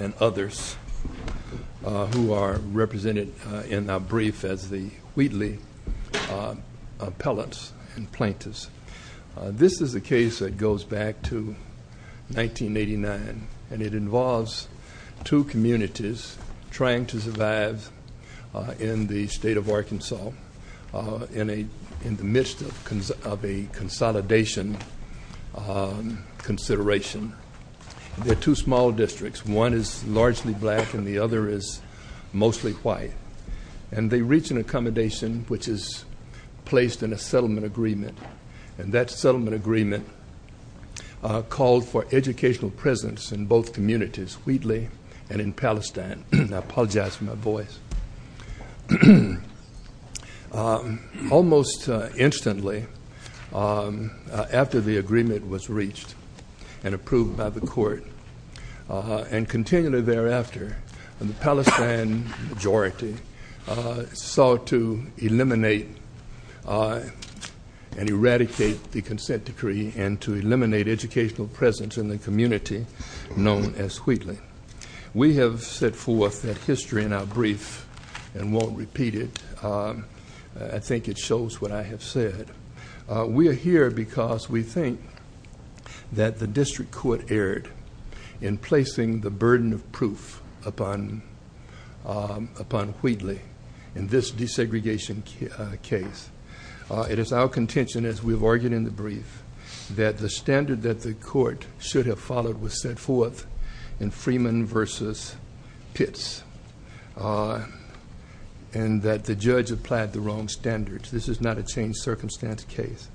and others who are represented in our brief as the Wheatley appellants and plaintiffs. This is the case that goes back to 1989 and it involves two communities trying to survive in the state of Arkansas in a in the midst of a consolidation consideration. They're two small districts. One is largely black and the other is mostly white and they reach an accommodation which is placed in a settlement agreement and that settlement agreement called for educational presence in both communities, Wheatley and in Palestine. I apologize after the agreement was reached and approved by the court and continually thereafter the Palestine majority sought to eliminate and eradicate the consent decree and to eliminate educational presence in the community known as Wheatley. We have set forth that history in our brief and won't repeat it. I think it shows what I have said. We are here because we think that the district court erred in placing the burden of proof upon upon Wheatley in this desegregation case. It is our contention as we've argued in the brief that the standard that the court should have followed was set forth in Freeman versus Pitts and that the judge applied the wrong standards. This is not a change circumstance case.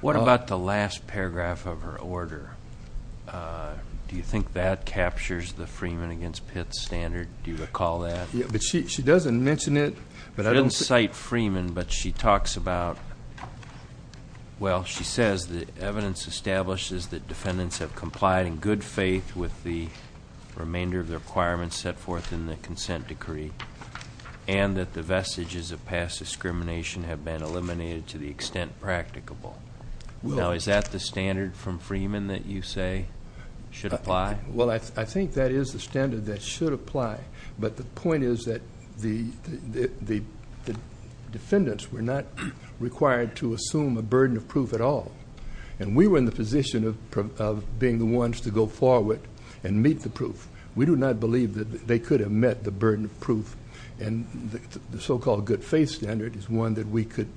What about the last paragraph of her order? Do you think that captures the Freeman against Pitts standard? Do you recall that? Yeah, but she doesn't mention it. She didn't cite Freeman but she talks about, well she says the evidence establishes that defendants have complied in good faith with the remainder of the requirements set forth in the consent decree and that the vestiges of past discrimination have been eliminated to the extent practicable. Now is that the standard from Freeman that you say should apply? Well, I think that is the standard that should apply but the point is that the defendants were not required to assume a burden of proof at all and we were in the position of being the ones to go forward and meet the proof. We do not believe that they could have met the burden of proof and the so-called good faith standard is one that we could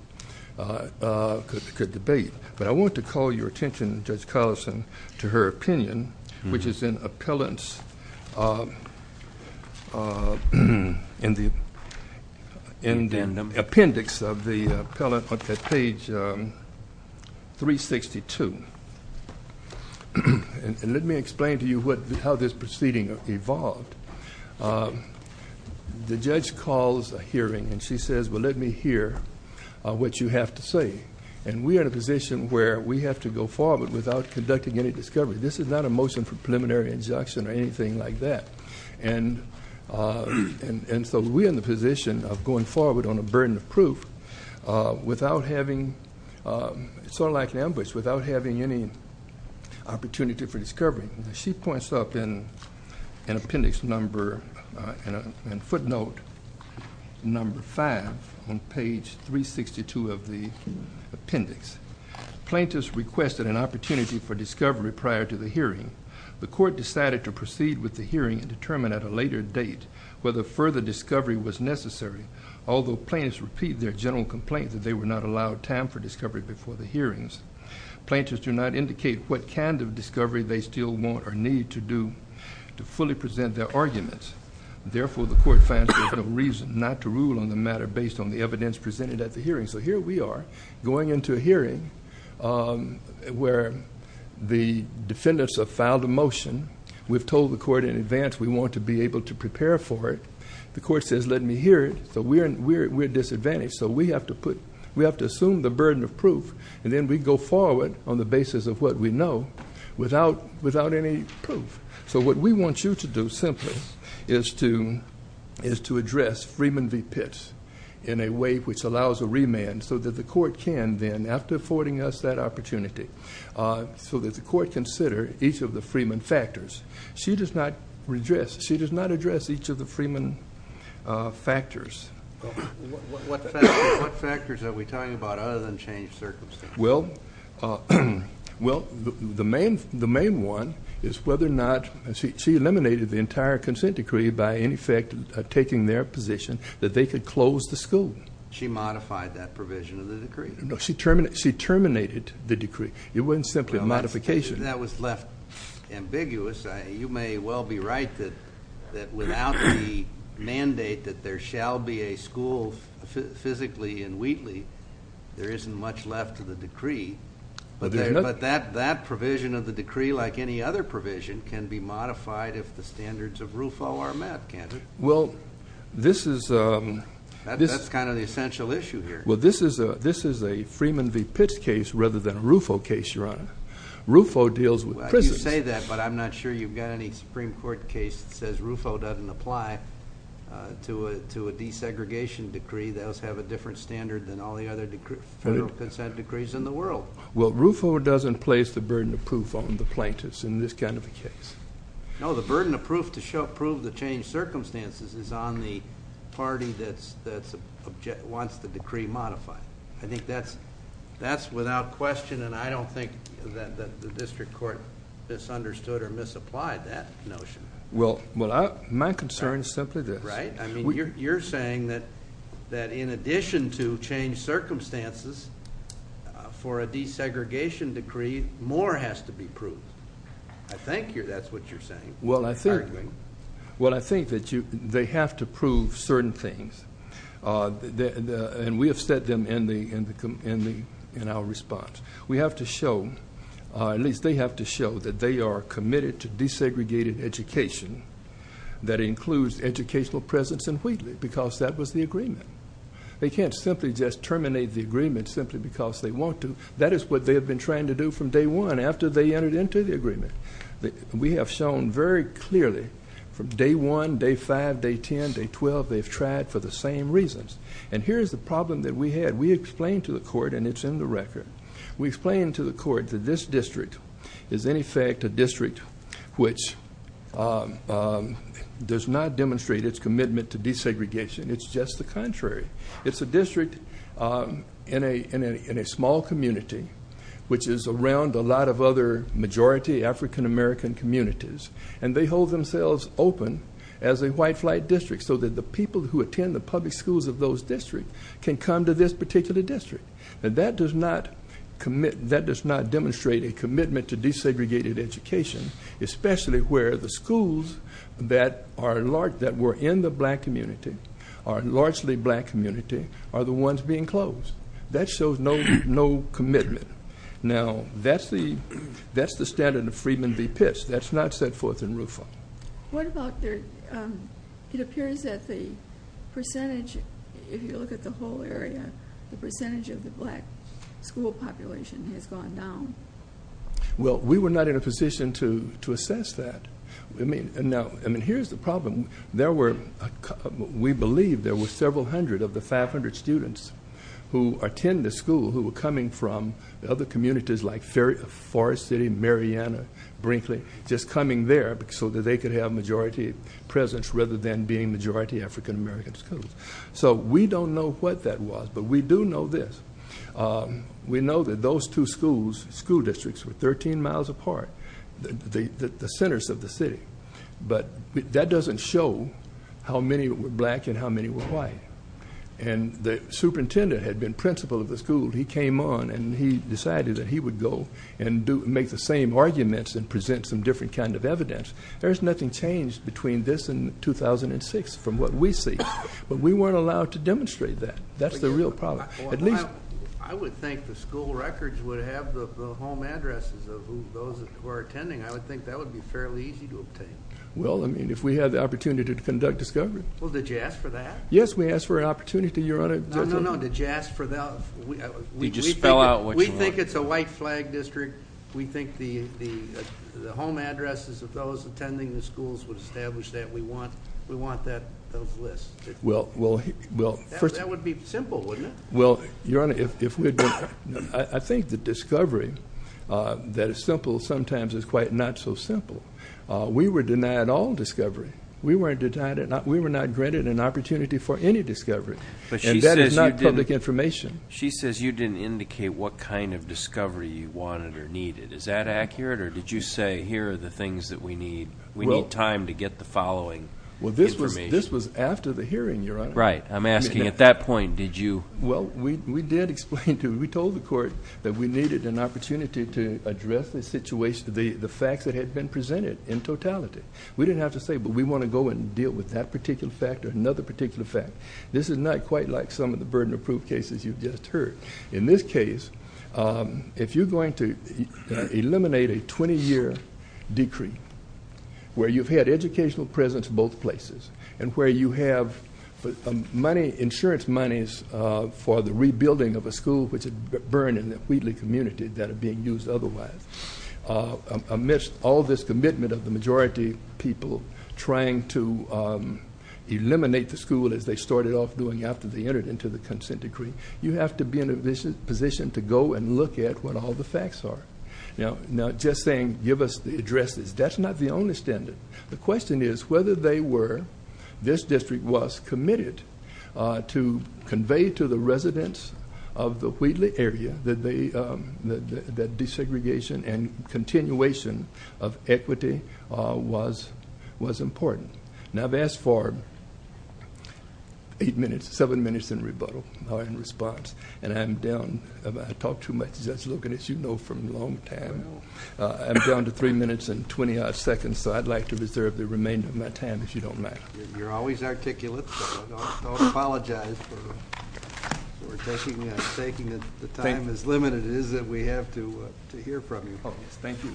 debate but I want to call your attention, Judge Carlson, to her opinion which is in appellant's, in the appendix of the appellant on page 362 and let me explain to you what how this proceeding evolved. The judge calls a hearing and she says, well let me hear what you have to say and we are in a position where we have to go forward without conducting any discovery. This is not a motion for preliminary injunction or anything like that and so we're in the position of going forward on a burden of proof without having, sort of like an ambush, without having any opportunity for discovery. She points up in an appendix number and footnote number five on page 362 of the appendix. Plaintiffs requested an opportunity for discovery prior to the hearing. The court decided to proceed with the hearing and determine at a later date whether further discovery was necessary. Although plaintiffs repeat their general complaint that they were not allowed time for discovery before the hearings, plaintiffs do not indicate what kind of discovery they still want or need to do to fully present their arguments. Therefore, the court finds there is no reason not to rule on the matter based on the evidence presented at the hearing. So here we are going into a hearing where the defendants have filed a motion. We've told the court in advance we want to be able to prepare for it. The court says, let me hear it. So we're going to assume the burden of proof and then we go forward on the basis of what we know without any proof. So what we want you to do simply is to address Freeman v. Pitts in a way which allows a remand so that the court can then, after affording us that opportunity, so that the court consider each of the Freeman factors. She does not redress, she does not address each of the Freeman factors. What factors are we talking about other than changed circumstances? Well, the main one is whether or not, she eliminated the entire consent decree by in effect taking their position that they could close the school. She modified that provision of the decree. No, she terminated the decree. It wasn't simply a modification. That was left ambiguous. You may well be right that without the mandate that there shall be a school physically in Wheatley, there isn't much left to the decree. But that provision of the decree, like any other provision, can be modified if the standards of RUFO are met, can't it? Well, this is a... That's kind of the essential issue here. Well, this is a Freeman v. Pitts case rather than a RUFO case, Your Honor. RUFO deals with prisoners. Well, you say that, but I'm not sure you've got any Supreme Court case that says RUFO doesn't apply to a desegregation decree. Those have a different standard than all the other federal consent decrees in the world. Well, RUFO doesn't place the burden of proof on the plaintiffs in this kind of a case. No, the burden of proof to prove the changed circumstances is on the party that wants the decree modified. I think that's without question, and I don't think that the district court misunderstood or misapplied that notion. Well, my concern is simply this. Right? I mean, you're saying that in addition to changed circumstances for a desegregation decree, more has to be proved. I think that's what you're saying. Well, I think that they have to prove certain things, and we have said them in our response. We have to show, at least they have to show, that they are committed to desegregated education that includes educational presence in Wheatley because that was the agreement. They can't simply just terminate the agreement simply because they want to. That is what they have been trying to do from day one after they entered into the agreement. We have shown very clearly from day one, day five, day 10, day 12, they've tried for the same reasons. And here is the problem that we had. We explained to the court, and it's in the record. We explained to the court that this district is, in effect, a district which does not demonstrate its commitment to desegregation. It's just the contrary. It's a district in a small community, which is around a lot of other majority African American communities, and they hold themselves open as a white flight district so that the people who attend the public schools of those districts can come to this particular district. That does not demonstrate a commitment to desegregated education, especially where the schools that were in the black community, are largely black community, are the ones being closed. That shows no commitment. Now, that's the standard of Freedmen v. Pitts. That's not set forth in Rufo. It appears that the percentage, if you look at the whole area, the percentage of the black school population has gone down. Well, we were not in a position to assess that. I mean, here's the problem. We believe there were several hundred of the 500 students who attended the school who were coming from other communities like Forest City, Mariana, Brinkley, just coming there so that they could have majority presence rather than being majority African American schools. So we don't know what that was, but we do know this. We know that those two schools, school districts, were 13 miles apart, the centers of the city. But that doesn't show how many were black and how many were white. And the superintendent had been principal of the school. He came on and he decided that he would go and make the same arguments and present some different kind of evidence. There's nothing changed between this and 2006 from what we see. But we weren't allowed to demonstrate that. That's the real problem. I would think the school records would have the home addresses of those who are attending. I would think that would be fairly easy to obtain. Well, I mean, if we had the opportunity to conduct discovery. Well, did you ask for that? Yes, we asked for an opportunity, Your Honor. No, no, no. Did you ask for that? You just spell out what you want. We think it's a white flag district. We think the home addresses of those attending the schools would establish that. We want those lists. That would be simple, wouldn't it? Well, Your Honor, I think the discovery that is simple sometimes is quite not so simple. We were denied all discovery. We were denied it. We were not granted an opportunity for any discovery. And that is not public information. She says you didn't indicate what kind of discovery you wanted or needed. Is that accurate? Or did you say here are the things that we need? We need time to get the following information. Well, this was after the hearing, Your Honor. Right. I'm asking at that point, did you? Well, we did explain to you. We told the court that we needed an opportunity to address the situation, the facts that had been presented in totality. We didn't have to say, but we want to go and deal with that particular fact or another particular fact. This is not quite like some of the burden of proof cases you've just heard. In this case, if you're going to eliminate a 20-year decree where you've had insurance monies for the rebuilding of a school, which had burned in the Wheatley community that are being used otherwise, amidst all this commitment of the majority of people trying to eliminate the school as they started off doing after they entered into the consent decree, you have to be in a position to go and look at what all the facts are. Now, just saying give us the addresses, that's not the only standard. The question is whether they were, this district was committed to convey to the residents of the Wheatley area that desegregation and continuation of equity was important. Now, I've asked for eight minutes, seven minutes in rebuttal or in response, and I'm down. I talk too much. Just look at it. You know from a long time. I'm down to three minutes and 20-odd seconds, so I'd like to reserve the remainder of my time if you don't mind. You're always articulate, so I don't apologize for taking the time as limited as we have to hear from you. Thank you.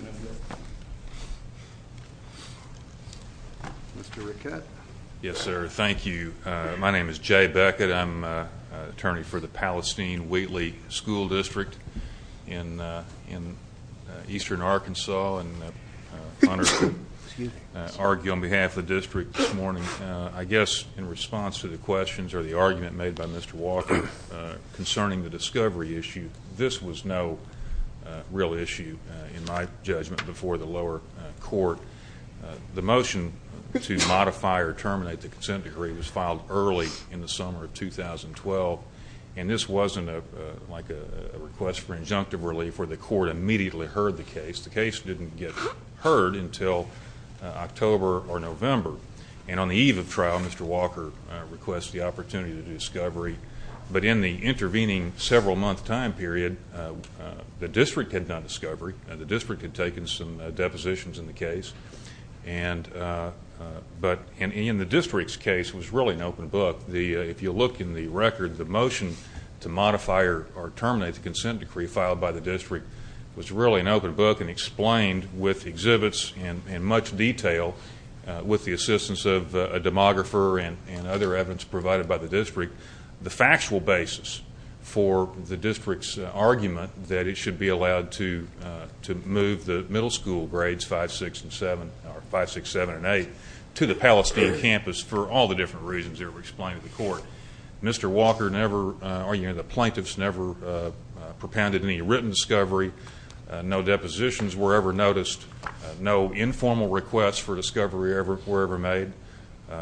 Mr. Rickett. Yes, sir. Thank you. My name is Jay Beckett. I'm an attorney for the Palestine Wheatley School District in eastern Arkansas and honored to argue on behalf of the district this morning. I guess in response to the questions or the argument made by Mr. Walker concerning the discovery issue, this was no real issue in my judgment before the lower court. The motion to modify or terminate the consent decree was filed early in the summer of 2012, and this wasn't like a request for injunctive relief where the court immediately heard the case. The case didn't get heard until October or November. And on the eve of trial, Mr. Walker requested the opportunity to do discovery. But in the intervening several-month time period, the district had done discovery. The district had taken some depositions in the case. But in the district's case, it was really an open book. If you look in the record, the motion to modify or terminate the consent decree filed by the district was really an open book, and explained with exhibits and much detail with the assistance of a demographer and other evidence provided by the district the factual basis for the district's argument that it should be allowed to move the middle school grades 5, 6, 7, and 8 to the Palestine campus for all the different reasons that were explained to the court. Mr. Walker argued that the plaintiffs never propounded any written discovery, no depositions were ever noticed, no informal requests for discovery were ever made,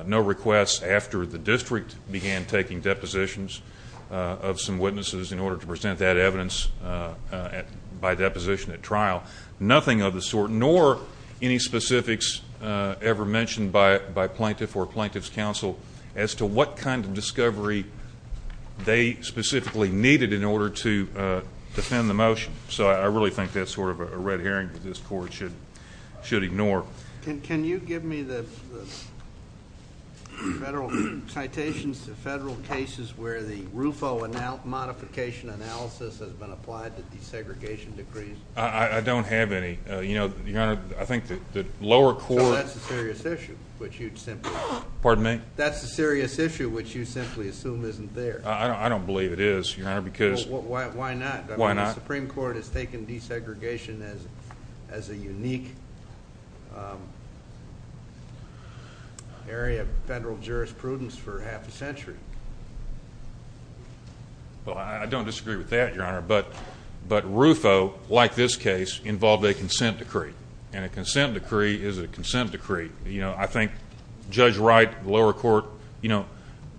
no requests after the district began taking depositions of some witnesses in order to present that evidence by deposition at trial, nothing of the sort nor any specifics ever mentioned by plaintiff or plaintiff's counsel as to what kind of discovery they specifically needed in order to defend the motion. So I really think that's sort of a red herring that this court should ignore. Can you give me the citations to federal cases where the RUFO modification analysis has been applied to desegregation decrees? I don't have any. Your Honor, I think the lower court So that's a serious issue, which you'd simply Pardon me? That's a serious issue, which you simply assume isn't there. I don't believe it is, Your Honor, because Why not? The Supreme Court has taken desegregation as a unique area of federal jurisprudence for half a century. Well, I don't disagree with that, Your Honor, but RUFO, like this case, involved a consent decree, and a consent decree is a consent decree. You know, I think Judge Wright, the lower court,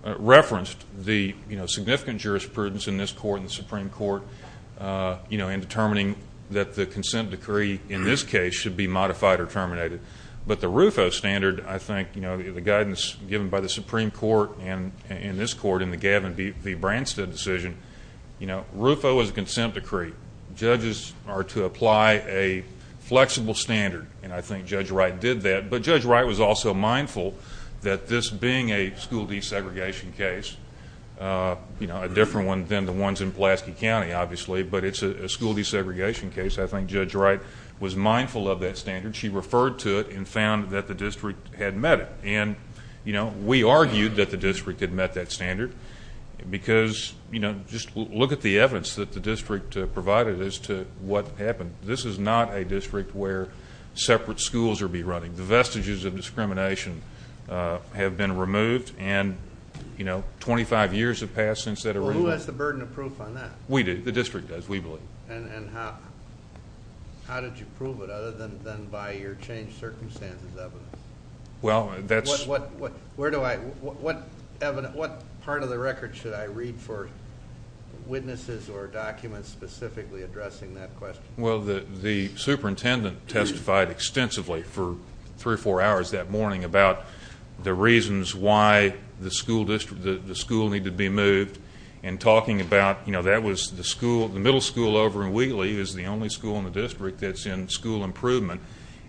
referenced the significant jurisprudence in this court and the Supreme Court in determining that the consent decree in this case should be modified or terminated. But the RUFO standard, I think, you know, the guidance given by the Supreme Court and this court in the Gavin v. Branstad decision, you know, RUFO is a consent decree. Judges are to apply a flexible standard, and I think Judge Wright did that. But Judge Wright was also mindful that this being a school desegregation case, you know, a different one than the ones in Pulaski County, obviously, but it's a school desegregation case. I think Judge Wright was mindful of that standard. She referred to it and found that the district had met it. And, you know, we argued that the district had met that standard because, you know, just look at the evidence that the district provided as to what happened. This is not a district where separate schools would be running. The vestiges of discrimination have been removed, and, you know, 25 years have passed since that arrival. Well, who has the burden of proof on that? We do. The district does, we believe. And how did you prove it other than by your changed circumstances evidence? Well, that's... Where do I, what part of the record should I read for witnesses or documents specifically addressing that question? Well, the superintendent testified extensively for three or four hours that morning about the reasons why the school district, the school needed to be moved and talking about, you know, that was the school, the middle school over in Wheatley is the only school in the district that's in school improvement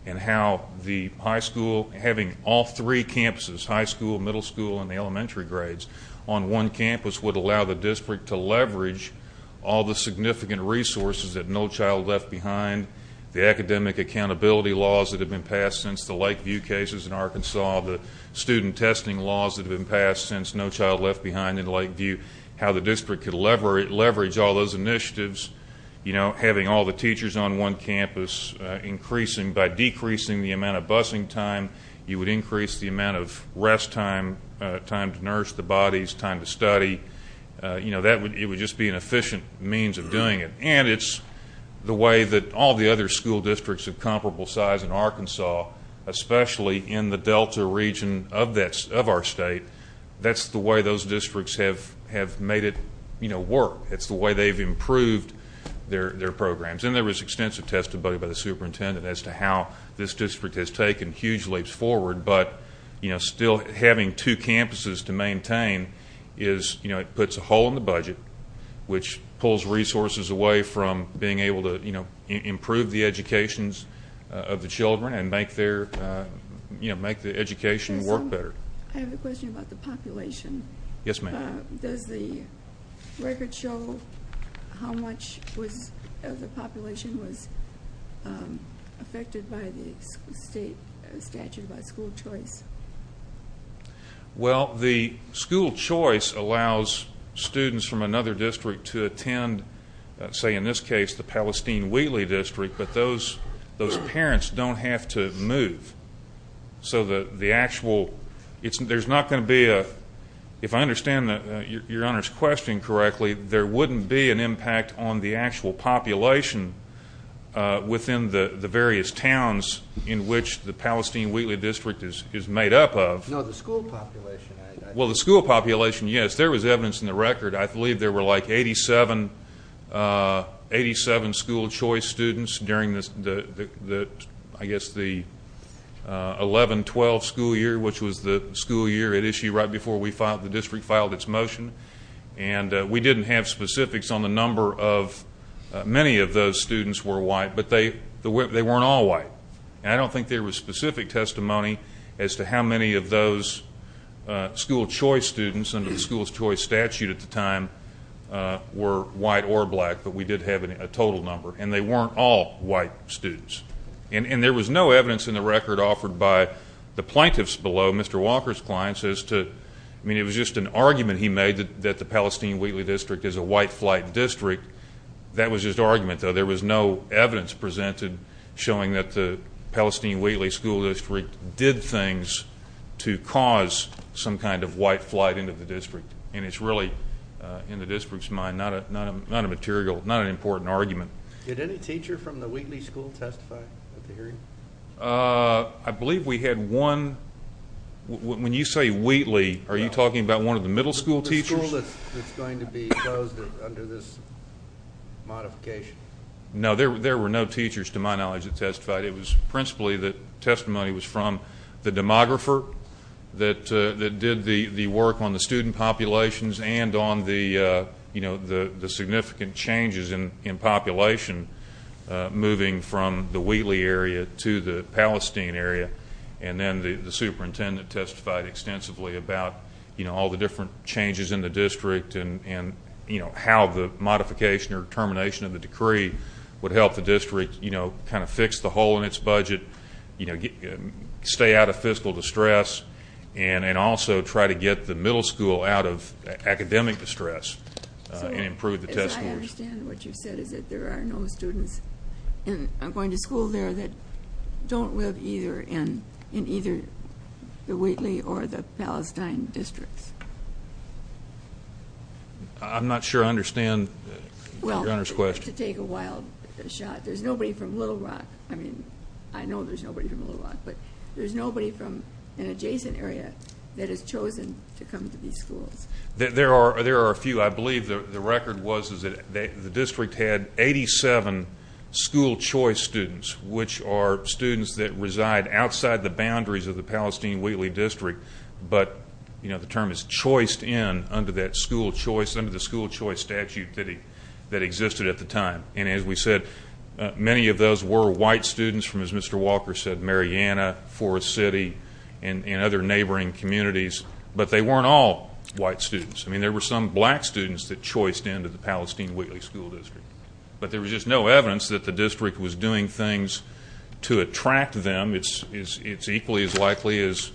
and how the high school, having all three campuses, high school, middle school, and the elementary grades on one campus would allow the district to leverage all the significant resources that No Child Left Behind, the academic accountability laws that have been passed since the Lakeview cases in Arkansas, the student testing laws that have been passed since No Child Left Behind in Lakeview, how the district could leverage all those initiatives, you know, having all the teachers on one campus increasing, by decreasing the amount of busing time, you would increase the amount of rest time, time to nurse the bodies, time to study. You know, it would just be an efficient means of doing it. And it's the way that all the other school districts of comparable size in Arkansas, especially in the Delta region of our state, that's the way those districts have made it work. It's the way they've improved their programs. And there was extensive testimony by the superintendent as to how this district has taken huge leaps forward, but, you know, still having two campuses to maintain is, you know, it puts a hole in the budget, which pulls resources away from being able to, you know, improve the educations of the children and make their, you know, make the education work better. I have a question about the population. Yes, ma'am. Does the record show how much of the population was affected by the state statute about school choice? Well, the school choice allows students from another district to attend, say in this case, the Palestine-Wheatley district, but those parents don't have to move. So the actual, there's not going to be a, if I understand Your Honor's question correctly, there wouldn't be an impact on the actual population within the various towns in which the Palestine-Wheatley district is made up of. No, the school population. Well, the school population, yes, there was evidence in the record. I believe there were like 87 school choice students during the, I guess, the 11-12 school year, which was the school year at issue right before the district filed its motion. And we didn't have specifics on the number of, many of those students were white, but they weren't all white. And I don't think there was specific testimony as to how many of those school choice students under the school choice statute at the time were white or black, but we did have a total number. And they weren't all white students. And there was no evidence in the record offered by the plaintiffs below, Mr. Walker's clients, as to, I mean, it was just an argument he made that the Palestine-Wheatley district is a white flight district. That was just argument, though. There was no evidence presented showing that the Palestine-Wheatley school district did things to cause some kind of white flight into the district. And it's really, in the district's mind, not a material, not an important argument. Did any teacher from the Wheatley school testify at the hearing? I believe we had one. When you say Wheatley, are you talking about one of the middle school teachers? The school that's going to be closed under this modification. It was principally that testimony was from the demographer that did the work on the student populations and on the significant changes in population moving from the Wheatley area to the Palestine area. And then the superintendent testified extensively about all the different changes in the district and, you know, how the modification or termination of the decree would help the district, you know, kind of fix the hole in its budget, you know, stay out of fiscal distress, and also try to get the middle school out of academic distress and improve the test scores. So I understand what you said is that there are no students going to school there that don't live either in either the Wheatley or the Palestine districts. I'm not sure I understand the governor's question. Well, to take a wild shot, there's nobody from Little Rock. I mean, I know there's nobody from Little Rock, but there's nobody from an adjacent area that has chosen to come to these schools. There are a few. But I believe the record was that the district had 87 school choice students, which are students that reside outside the boundaries of the Palestine-Wheatley district, but, you know, the term is choiced in under that school choice statute that existed at the time. And as we said, many of those were white students from, as Mr. Walker said, Mariana, Forest City, and other neighboring communities, but they weren't all white students. I mean, there were some black students that choiced into the Palestine-Wheatley school district, but there was just no evidence that the district was doing things to attract them. It's equally as likely as,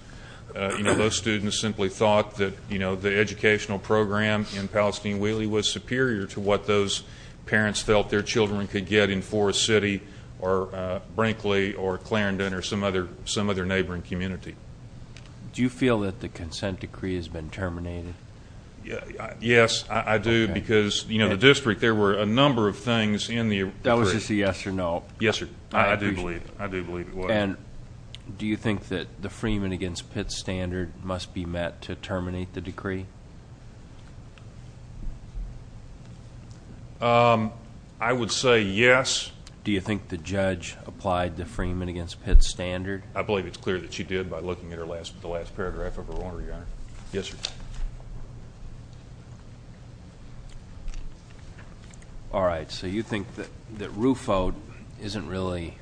you know, those students simply thought that, you know, the educational program in Palestine-Wheatley was superior to what those parents felt their children could get in Forest City or Brinkley or Clarendon or some other neighboring community. Do you feel that the consent decree has been terminated? Yes, I do, because, you know, the district, there were a number of things in the decree. That was just a yes or no. Yes, sir. I do believe it was. And do you think that the Freeman against Pitts standard must be met to terminate the decree? I would say yes. Do you think the judge applied the Freeman against Pitts standard? I believe it's clear that she did by looking at the last paragraph of her order, Your Honor. Yes, sir. All right. So you think that RUFO isn't really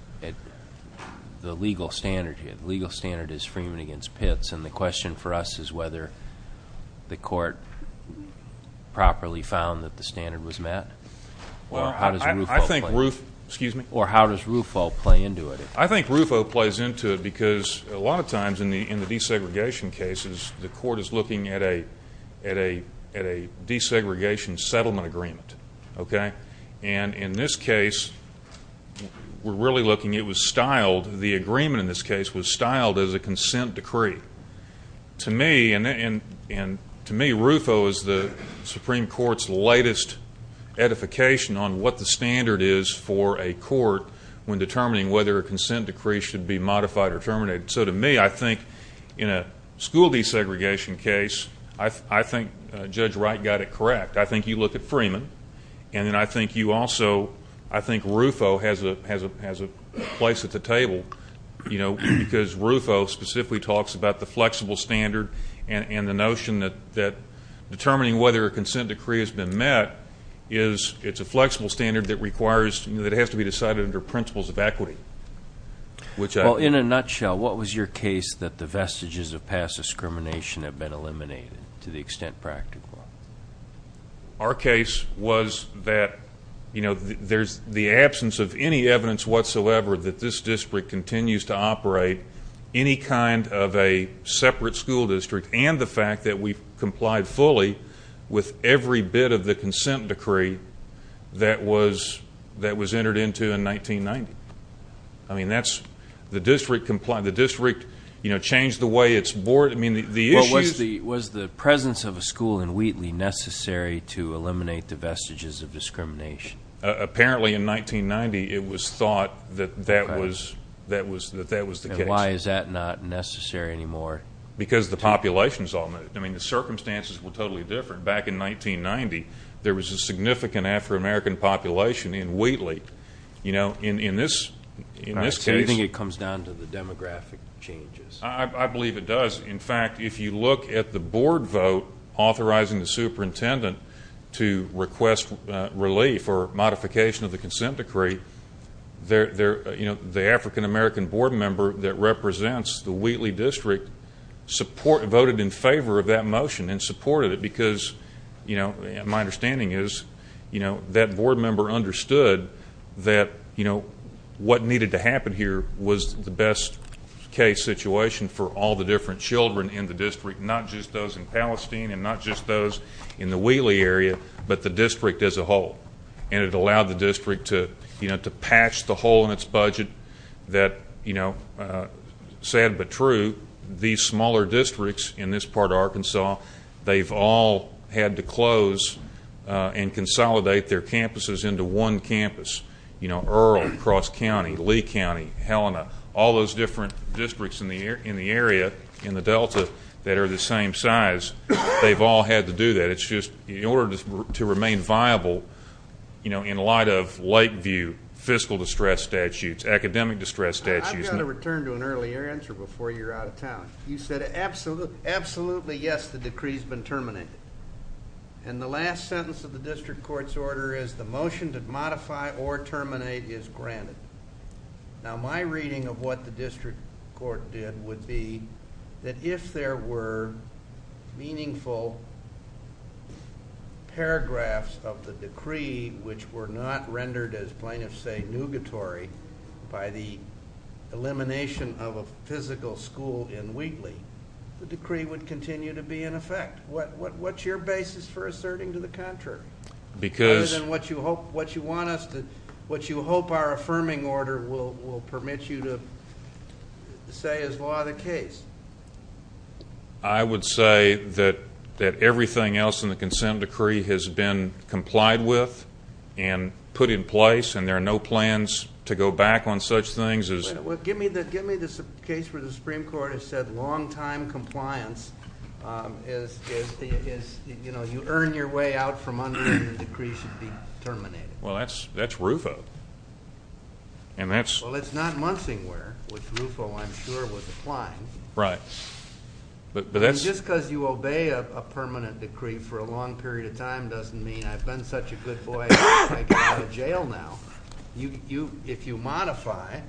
the legal standard yet? The legal standard is Freeman against Pitts, and the question for us is whether the court properly found that the standard was met? Or how does RUFO play into it? I think RUFO plays into it because a lot of times in the desegregation cases, the court is looking at a desegregation settlement agreement, okay? And in this case, we're really looking, it was styled, the agreement in this case was styled as a consent decree. To me, RUFO is the Supreme Court's latest edification on what the standard is for a court when determining whether a consent decree should be modified or terminated. So to me, I think in a school desegregation case, I think Judge Wright got it correct. I think you look at Freeman, and then I think you also, I think RUFO has a place at the table, you know, because RUFO specifically talks about the flexible standard and the notion that determining whether a consent decree has been met is, it's a flexible standard that requires, that has to be decided under principles of equity. Well, in a nutshell, what was your case that the vestiges of past discrimination have been eliminated to the extent practical? Our case was that, you know, there's the absence of any evidence whatsoever that this district continues to operate any kind of a separate school district and the fact that we've complied fully with every bit of the consent decree that was entered into in 1990. I mean, that's, the district complied, the district, you know, changed the way its board, I mean, the issues Was the presence of a school in Wheatley necessary to eliminate the vestiges of discrimination? Apparently in 1990, it was thought that that was the case. And why is that not necessary anymore? Because the populations all moved. I mean, the circumstances were totally different. Back in 1990, there was a significant Afro-American population in Wheatley. You know, in this case So you think it comes down to the demographic changes? I believe it does. In fact, if you look at the board vote authorizing the superintendent to request relief or modification of the consent decree, you know, the African-American board member that represents the Wheatley district voted in favor of that motion and supported it because, you know, my understanding is that board member understood that, you know, what needed to happen here was the best case situation for all the different children in the district, not just those in Palestine and not just those in the Wheatley area, but the district as a whole. And it allowed the district to patch the hole in its budget that, you know, sad but true, these smaller districts in this part of Arkansas, they've all had to close and consolidate their campuses into one campus. You know, Earl, Cross County, Lee County, Helena, all those different districts in the area in the Delta that are the same size, they've all had to do that. It's just in order to remain viable, you know, in light of Lakeview, fiscal distress statutes, academic distress statutes. I've got to return to an earlier answer before you're out of town. You said absolutely, yes, the decree's been terminated. And the last sentence of the district court's order is the motion to modify or terminate is granted. Now, my reading of what the district court did would be that if there were meaningful paragraphs of the decree which were not rendered, as plaintiffs say, nugatory by the elimination of a physical school in Wheatley, the decree would continue to be in effect. What's your basis for asserting to the contrary? Other than what you hope our affirming order will permit you to say is law of the case. I would say that everything else in the consent decree has been complied with and put in place, and there are no plans to go back on such things. Give me the case where the Supreme Court has said long-time compliance is, you know, you earn your way out from under when the decree should be terminated. Well, that's RUFO. Well, it's not Munsingware, which RUFO, I'm sure, was applying. Right. Just because you obey a permanent decree for a long period of time doesn't mean I've been such a good boy, I can go to jail now. If you modify,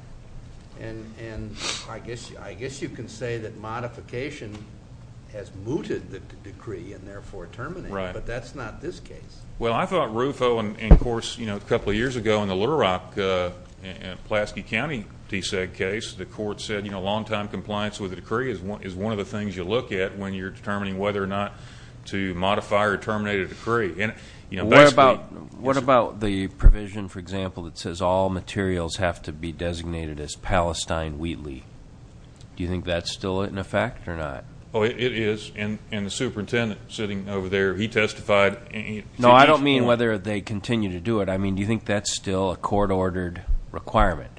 and I guess you can say that modification has mooted the decree and therefore terminated, but that's not this case. Well, I thought RUFO, and, of course, you know, a couple of years ago in the Little Rock, Pulaski County DSEG case, the court said, you know, long-time compliance with a decree is one of the things you look at when you're determining whether or not to modify or terminate a decree. What about the provision, for example, that says all materials have to be designated as Palestine Wheatley? Do you think that's still in effect or not? Oh, it is, and the superintendent sitting over there, he testified. No, I don't mean whether they continue to do it. I mean, do you think that's still a court-ordered requirement?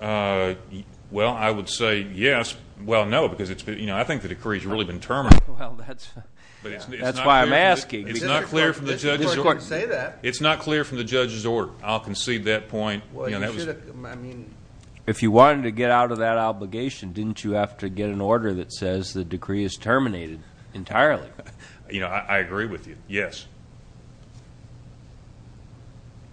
Well, I would say yes. Well, no, because I think the decree has really been terminated. That's why I'm asking. It's not clear from the judge's order. It's not clear from the judge's order. I'll concede that point. If you wanted to get out of that obligation, didn't you have to get an order that says the decree is terminated entirely? You know, I agree with you, yes.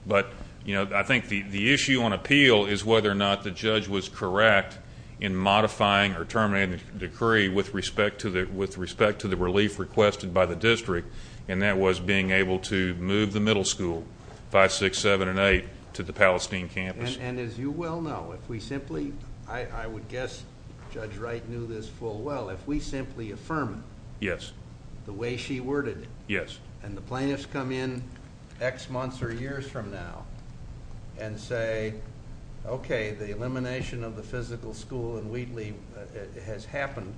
But, you know, I think the issue on appeal is whether or not the judge was correct in modifying or terminating the decree with respect to the relief requested by the district, and that was being able to move the middle school, 5, 6, 7, and 8, to the Palestine campus. And as you well know, if we simply... I would guess Judge Wright knew this full well. If we simply affirm it... Yes.... the way she worded it... Yes.... and the plaintiffs come in X months or years from now and say, okay, the elimination of the physical school in Wheatley has happened,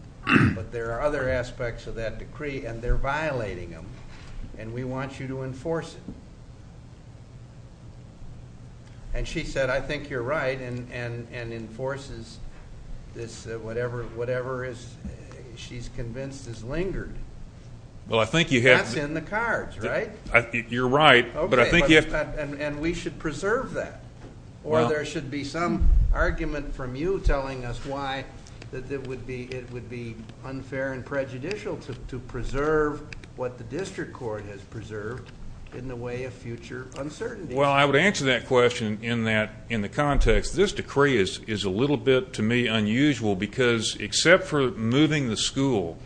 but there are other aspects of that decree, and they're violating them, and we want you to enforce it. And she said, I think you're right, and enforces this whatever she's convinced has lingered. Well, I think you have... That's in the cards, right? You're right, but I think you have... Okay, and we should preserve that, or there should be some argument from you telling us why it would be unfair to preserve what the district court has preserved in the way of future uncertainty. Well, I would answer that question in the context. This decree is a little bit, to me, unusual, because except for moving the school,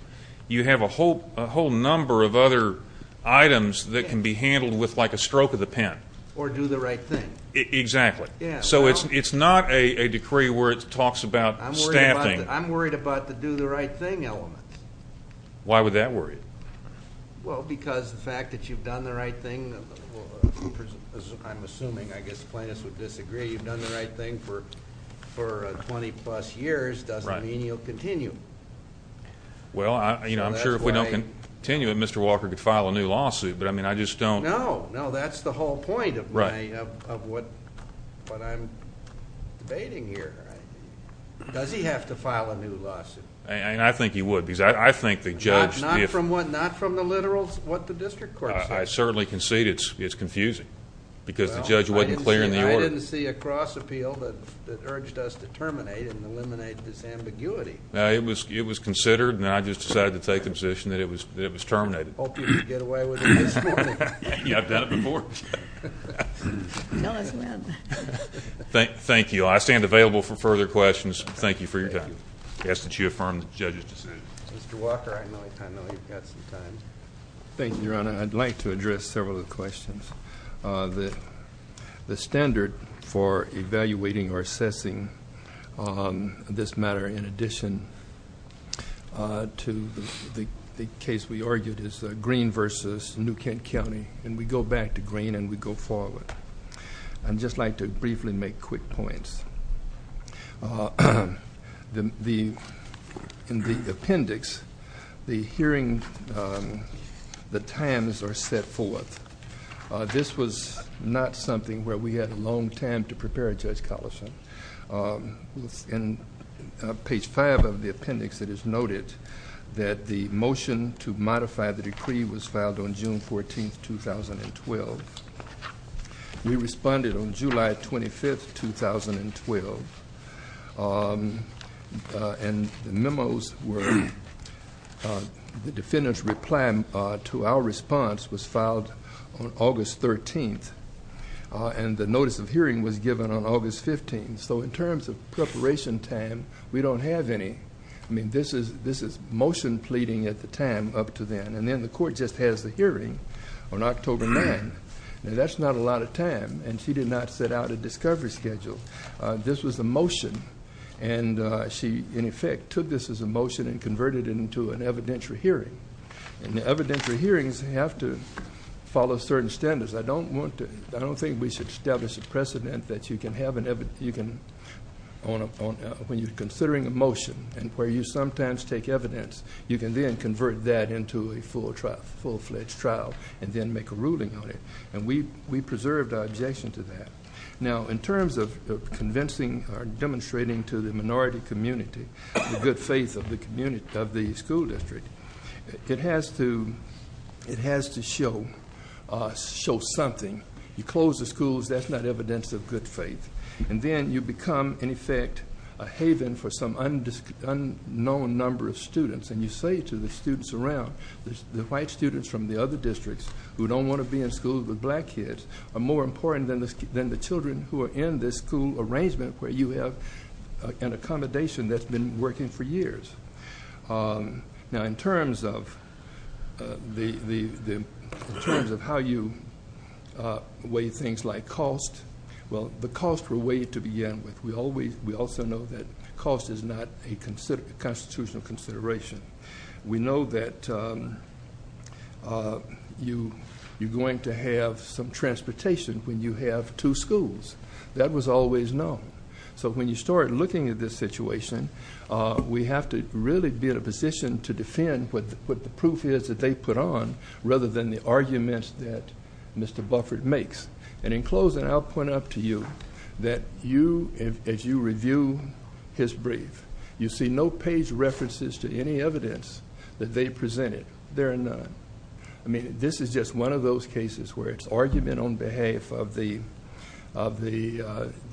you have a whole number of other items that can be handled with like a stroke of the pen. Or do the right thing. Exactly. So it's not a decree where it talks about staffing. I'm worried about the do the right thing element. Why would that worry you? Well, because the fact that you've done the right thing, I'm assuming I guess plaintiffs would disagree, you've done the right thing for 20-plus years doesn't mean you'll continue. Well, I'm sure if we don't continue it, Mr. Walker could file a new lawsuit, but I just don't... No, no, that's the whole point of what I'm debating here. Does he have to file a new lawsuit? I think he would, because I think the judge... Not from what? Not from the literals, what the district court says? I certainly concede it's confusing, because the judge wasn't clear in the order. Well, I didn't see a cross appeal that urged us to terminate and eliminate this ambiguity. No, it was considered, and I just decided to take the position that it was terminated. Hope you can get away with it this morning. Yeah, I've done it before. Tell us when. Thank you. I stand available for further questions. Thank you for your time. I ask that you affirm the judge's decision. Mr. Walker, I know you've got some time. Thank you, Your Honor. I'd like to address several of the questions. The standard for evaluating or assessing this matter, in addition to the case we argued is Green v. New Kent County, and we go back to Green and we go forward. I'd just like to briefly make quick points. In the appendix, the hearing, the times are set forth. This was not something where we had a long time to prepare, Judge Collison. In page 5 of the appendix, it is noted that the motion to modify the decree was filed on June 14, 2012. We responded on July 25, 2012. And the memos were the defendant's reply to our response was filed on August 13, and the notice of hearing was given on August 15. So in terms of preparation time, we don't have any. I mean, this is motion pleading at the time up to then, and then the court just has the hearing on October 9. Now, that's not a lot of time, and she did not set out a discovery schedule. This was a motion, and she, in effect, took this as a motion and converted it into an evidentiary hearing. And the evidentiary hearings have to follow certain standards. I don't want to, I don't think we should establish a precedent that you can have an, when you're considering a motion and where you sometimes take evidence, you can then convert that into a full-fledged trial and then make a ruling on it. And we preserved our objection to that. Now, in terms of convincing or demonstrating to the minority community the good faith of the school district, it has to show something. You close the schools, that's not evidence of good faith. And then you become, in effect, a haven for some unknown number of students. And you say to the students around, the white students from the other districts who don't want to be in schools with black kids are more important than the children who are in this school arrangement where you have an accommodation that's been working for years. Now, in terms of how you weigh things like cost, well, the costs were weighed to begin with. We also know that cost is not a constitutional consideration. We know that you're going to have some transportation when you have two schools. That was always known. So when you start looking at this situation, we have to really be in a position to defend what the proof is that they put on rather than the arguments that Mr. Buffert makes. And in closing, I'll point out to you that you, as you review his brief, you see no page references to any evidence that they presented. There are none. I mean, this is just one of those cases where it's argument on behalf of the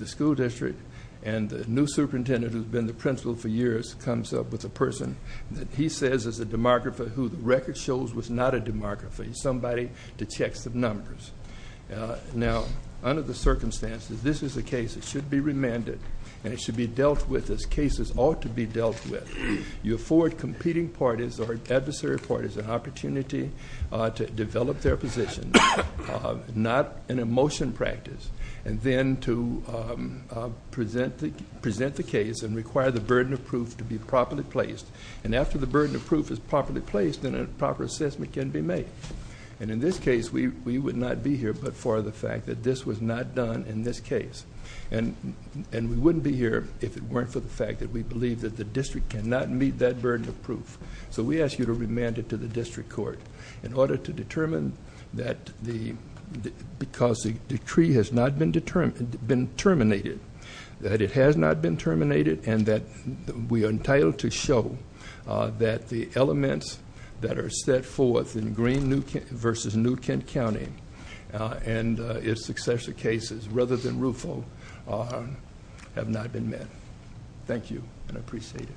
school district and the new superintendent who's been the principal for years comes up with a person that he says is a demographer who the record shows was not a demographer. He's somebody that checks the numbers. Now, under the circumstances, this is a case that should be remanded and it should be dealt with as cases ought to be dealt with. You afford competing parties or adversary parties an opportunity to develop their positions, not an emotion practice, and then to present the case and require the burden of proof to be properly placed. And after the burden of proof is properly placed, then a proper assessment can be made. And in this case, we would not be here but for the fact that this was not done in this case. And we wouldn't be here if it weren't for the fact that we believe that the district cannot meet that burden of proof. So we ask you to remand it to the district court in order to determine that the because the decree has not been terminated, that it has not been terminated, and that we are entitled to show that the elements that are set forth in Green v. New Kent County and its successor cases rather than Rufo have not been met. Thank you, and I appreciate it.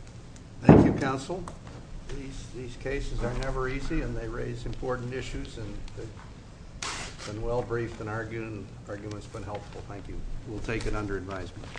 Thank you, Counsel. These cases are never easy, and they raise important issues, and they've been well-briefed and argued, and the argument's been helpful. Thank you. We'll take it under advisement.